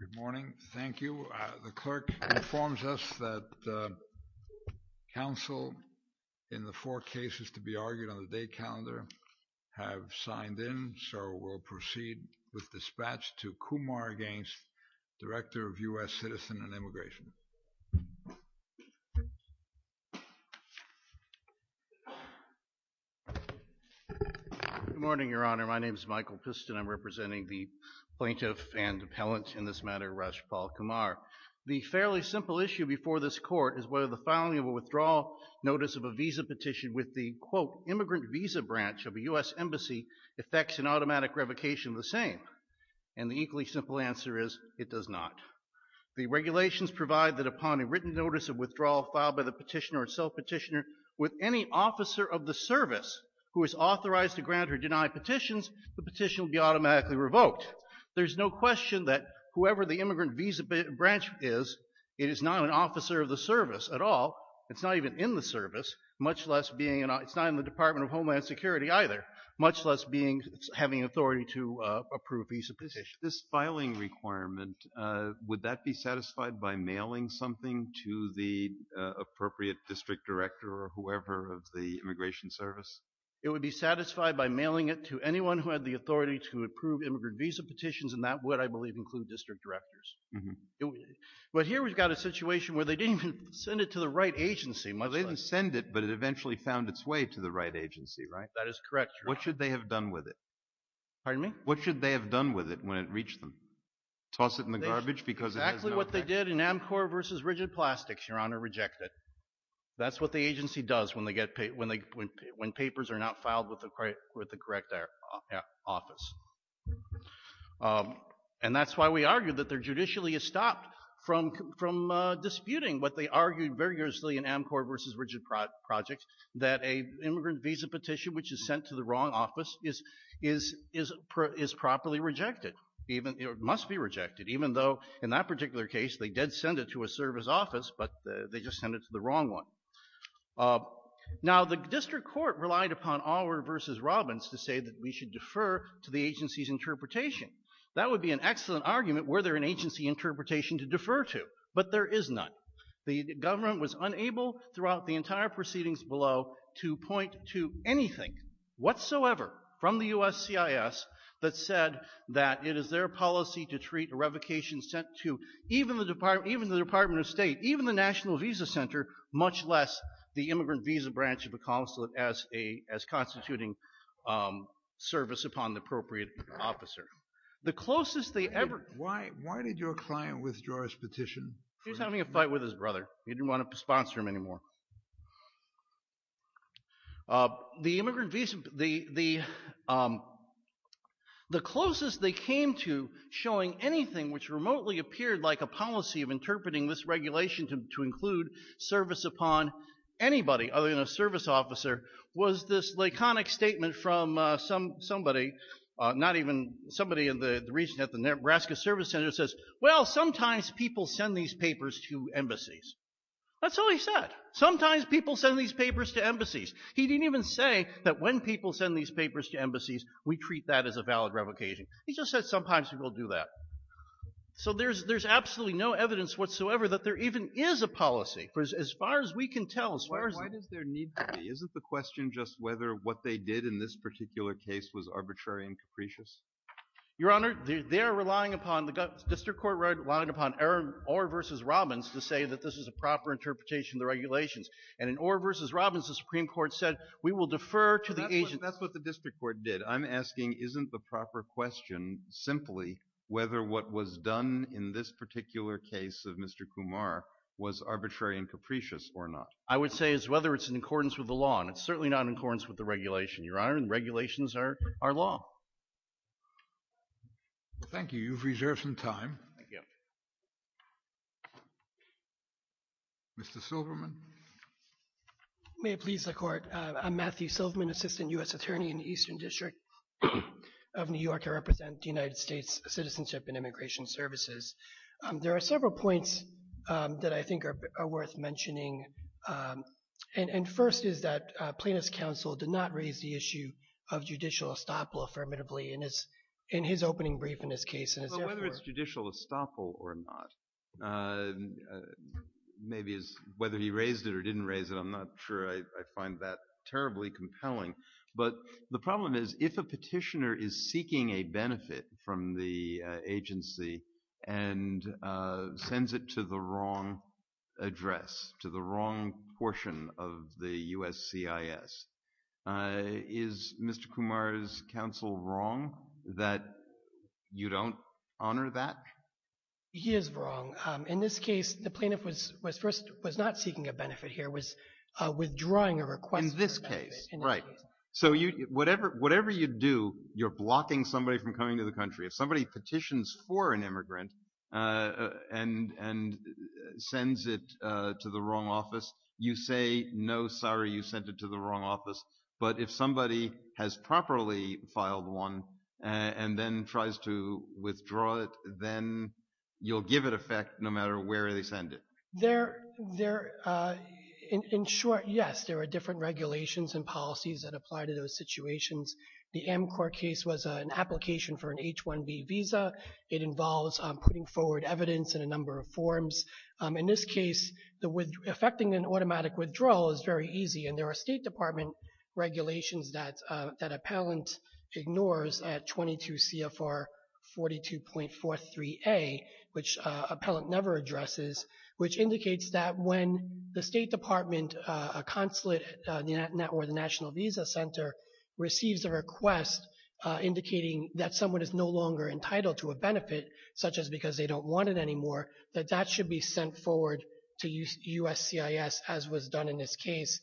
Good morning. Thank you. The clerk informs us that counsel in the four cases to be argued on the date calendar have signed in, so we'll proceed with dispatch to Kumar Gaines, Director of U.S. Citizen and Immigration. Good morning, Your Honor. My name is Michael Piston. I'm representing the in this matter, Rajpal Kumar. The fairly simple issue before this court is whether the filing of a withdrawal notice of a visa petition with the, quote, immigrant visa branch of a U.S. embassy affects an automatic revocation of the same, and the equally simple answer is it does not. The regulations provide that upon a written notice of withdrawal filed by the petitioner or self-petitioner with any officer of the service who is authorized to grant or deny petitions, the petition will be automatically revoked. There's no question that whoever the immigrant visa branch is, it is not an officer of the service at all. It's not even in the service, much less being, it's not in the Department of Homeland Security either, much less being, having authority to approve a visa petition. This filing requirement, would that be satisfied by mailing something to the appropriate district director or whoever of the Immigration Service? It would be satisfied by mailing it to anyone who had the authority to approve immigrant visa petitions, and that would, I believe, include district directors. But here we've got a situation where they didn't even send it to the right agency. They didn't send it, but it eventually found its way to the right agency, right? That is correct. What should they have done with it? Pardon me? What should they have done with it when it reached them? Toss it in the garbage? Exactly what they did in Amcor versus Rigid Plastics, Your Honor, rejected. That's what the agency does when they get paid, when papers are not filed with the correct office. And that's why we argue that they're judicially stopped from disputing what they argued vigorously in Amcor versus Rigid Projects, that a immigrant visa petition which is sent to the wrong office is properly rejected. Even, it must be rejected. Even though in that particular case, they did send it to a service office, but they just sent it to the wrong one. Now, the district court relied upon Auer versus Robbins to say that we should defer to the agency's interpretation. That would be an excellent argument were there an agency interpretation to defer to, but there is none. The government was unable throughout the entire proceedings below to point to anything whatsoever from the USCIS that said that it is their policy to treat a revocation sent to even the Department of State, even the National Visa Center, much less the immigrant visa branch of the consulate as constituting service upon the appropriate officer. The closest they ever— Why did your client withdraw his petition? He was having a fight with his brother. He didn't want to sponsor him anymore. The closest they came to showing anything which remotely appeared like a policy of interpreting this regulation to include service upon anybody other than a service officer was this laconic statement from somebody, not even somebody in the region, at the Nebraska Service Center says, well, sometimes people send these papers to embassies. That's all he said. Sometimes people send these papers to embassies. He didn't even say that when people send these papers to embassies, we treat that as a valid revocation. He just said sometimes people do that. So there's absolutely no evidence whatsoever that there even is a policy. As far as we can tell, as far as— Why does there need to be? Isn't the question just whether what they did in this particular case was arbitrary and capricious? Your Honor, they are relying upon— the district court relied upon Orr v. Robbins to say that this is a proper interpretation of the regulations. And in Orr v. Robbins, the Supreme Court said, we will defer to the agency— That's what the district court did. I'm asking, isn't the proper question simply whether what was done in this particular case of Mr. Kumar was arbitrary and capricious or not? I would say it's whether it's in accordance with the law. And it's certainly not in accordance with the regulation, Your Honor. And regulations are law. Thank you. You've reserved some time. Mr. Silverman. May it please the Court. I'm Matthew Silverman, Assistant U.S. Attorney in the Eastern District of New York. I represent the United States Citizenship and Immigration Services. There are several points that I think are worth mentioning. And first is that Plaintiff's counsel did not raise the issue of judicial estoppel affirmatively in his opening brief in this case. Well, whether it's judicial estoppel or not. Maybe it's whether he raised it or didn't raise it. I'm not sure I find that terribly compelling. But the problem is, if a petitioner is seeking a benefit from the agency and sends it to the wrong address, to the wrong portion of the USCIS, is Mr. Kumar's counsel wrong that you don't honor that? He is wrong. In this case, the plaintiff was not seeking a benefit here, was withdrawing a request for a benefit. In this case, right. So whatever you do, you're blocking somebody from coming to the country. If somebody petitions for an immigrant and sends it to the wrong office, you say, no, sorry, you sent it to the wrong office. But if somebody has properly filed one and then tries to withdraw it, then you'll give it effect no matter where they send it. There, in short, yes, there are different regulations and policies that apply to those situations. The Amcorp case was an application for an H-1B visa. It involves putting forward evidence in a number of forms. In this case, affecting an automatic withdrawal is very easy. And there are State Department regulations that appellant ignores at 22 CFR 42.43a, which appellant never addresses, which indicates that when the State Department, a consulate or the National Visa Center, receives a request indicating that someone is no longer entitled to a benefit, such as because they don't want it anymore, that that should be sent forward to USCIS, as was done in this case.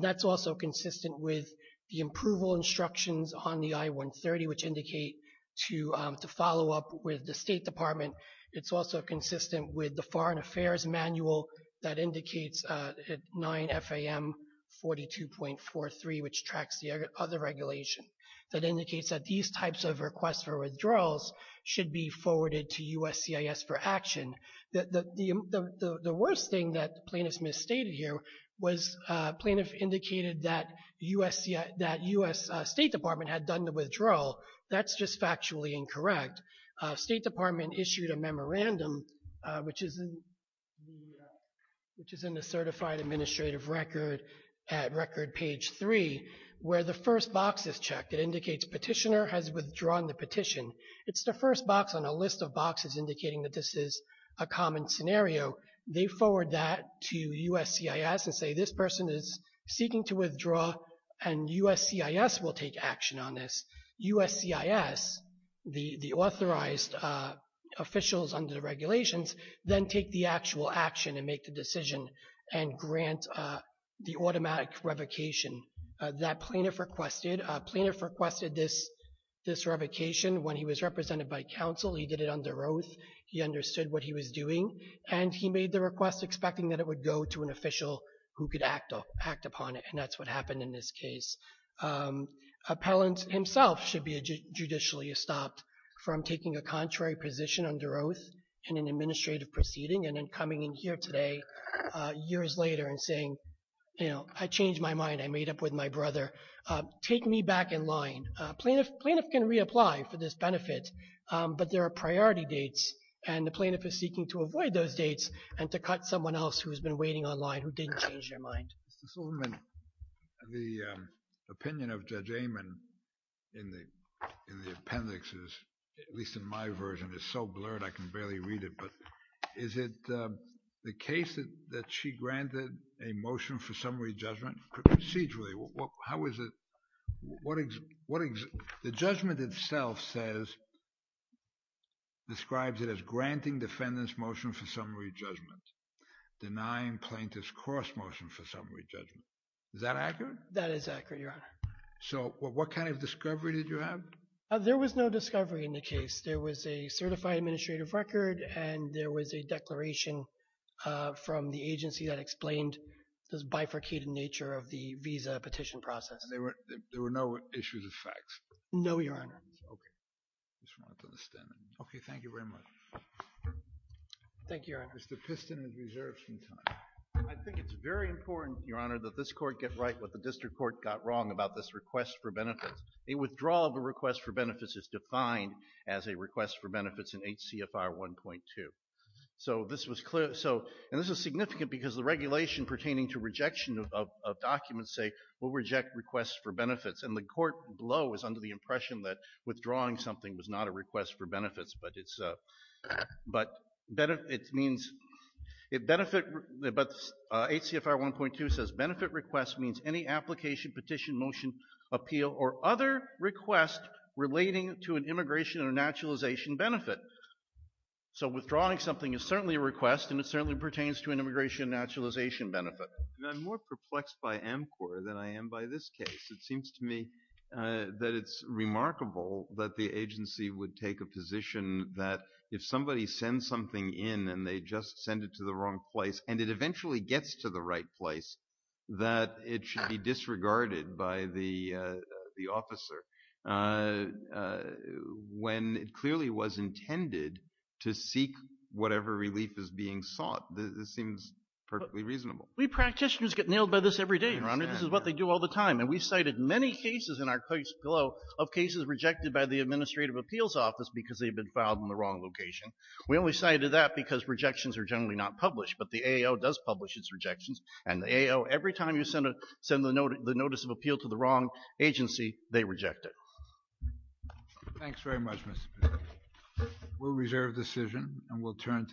That's also consistent with the approval instructions on the I-130, which indicate to follow up with the State Department. It's also consistent with the Foreign Affairs Manual that indicates at 9 FAM 42.43, which tracks the other regulation, that indicates that these types of requests for withdrawals should be forwarded to USCIS for action. The worst thing that plaintiff's misstated here was plaintiff indicated that USCIS, that U.S. State Department had done the withdrawal. That's just factually incorrect. State Department issued a memorandum, which is in the certified administrative record at record page three, where the first box is checked. It indicates petitioner has withdrawn the petition. It's the first box on a list of boxes indicating that this is a common scenario. They forward that to USCIS and say, this person is seeking to withdraw and USCIS will take action on this. USCIS, the authorized officials under the regulations, then take the actual action and make the decision and grant the automatic revocation. That plaintiff requested, plaintiff requested this revocation when he was represented by counsel. He did it under oath. He understood what he was doing. And he made the request expecting that it would go to an official who could act upon it. And that's what happened in this case. Appellant himself should be judicially stopped from taking a contrary position under oath in an administrative proceeding. And then coming in here today, years later and saying, you know, I changed my mind. I made up with my brother. Take me back in line. Plaintiff can reapply for this benefit, but there are priority dates. And the plaintiff is seeking to avoid those dates and to cut someone else who has been waiting on line who didn't change their mind. Mr. Solomon, the opinion of Judge Amon in the appendix is, at least in my version, is so blurred I can barely read it. But is it the case that she granted a motion for summary judgment procedurally? How is it? The judgment itself says, describes it as granting defendant's motion for summary judgment, denying plaintiff's cross motion for summary judgment. Is that accurate? That is accurate, Your Honor. So what kind of discovery did you have? There was no discovery in the case. There was a certified administrative record and there was a declaration from the agency that explained this bifurcated nature of the visa petition process. And there were no issues of facts? No, Your Honor. Okay, I just wanted to understand that. Okay, thank you very much. Thank you, Your Honor. Mr. Piston has reserved some time. I think it's very important, Your Honor, that this court get right what the district court got wrong about this request for benefits. A withdrawal of a request for benefits is defined as a request for benefits in HCFR 1.2. So this was clear. And this is significant because the regulation pertaining to rejection of documents say, we'll reject requests for benefits. And the court below is under the impression that withdrawing something was not a request for benefits. But HCFR 1.2 says, benefit request means any application, petition, motion, appeal, or other request relating to an immigration or naturalization benefit. So withdrawing something is certainly a request and it certainly pertains to an immigration naturalization benefit. I'm more perplexed by AMCOR than I am by this case. It seems to me that it's remarkable that the agency would take a position that if somebody sends something in and they just send it to the wrong place and it eventually gets to the right place, that it should be disregarded by the officer. When it clearly was intended to seek whatever relief is being sought, this seems perfectly reasonable. We practitioners get nailed by this every day, Your Honor. This is what they do all the time. And we cited many cases in our case below of cases rejected by the Administrative Appeals Office because they've been filed in the wrong location. We only cited that because rejections are generally not published, but the AO does publish its rejections. And the AO, every time you send the notice of appeal to the wrong agency, they reject it. Thanks very much, Mr. Peter. We'll reserve the decision and we'll turn.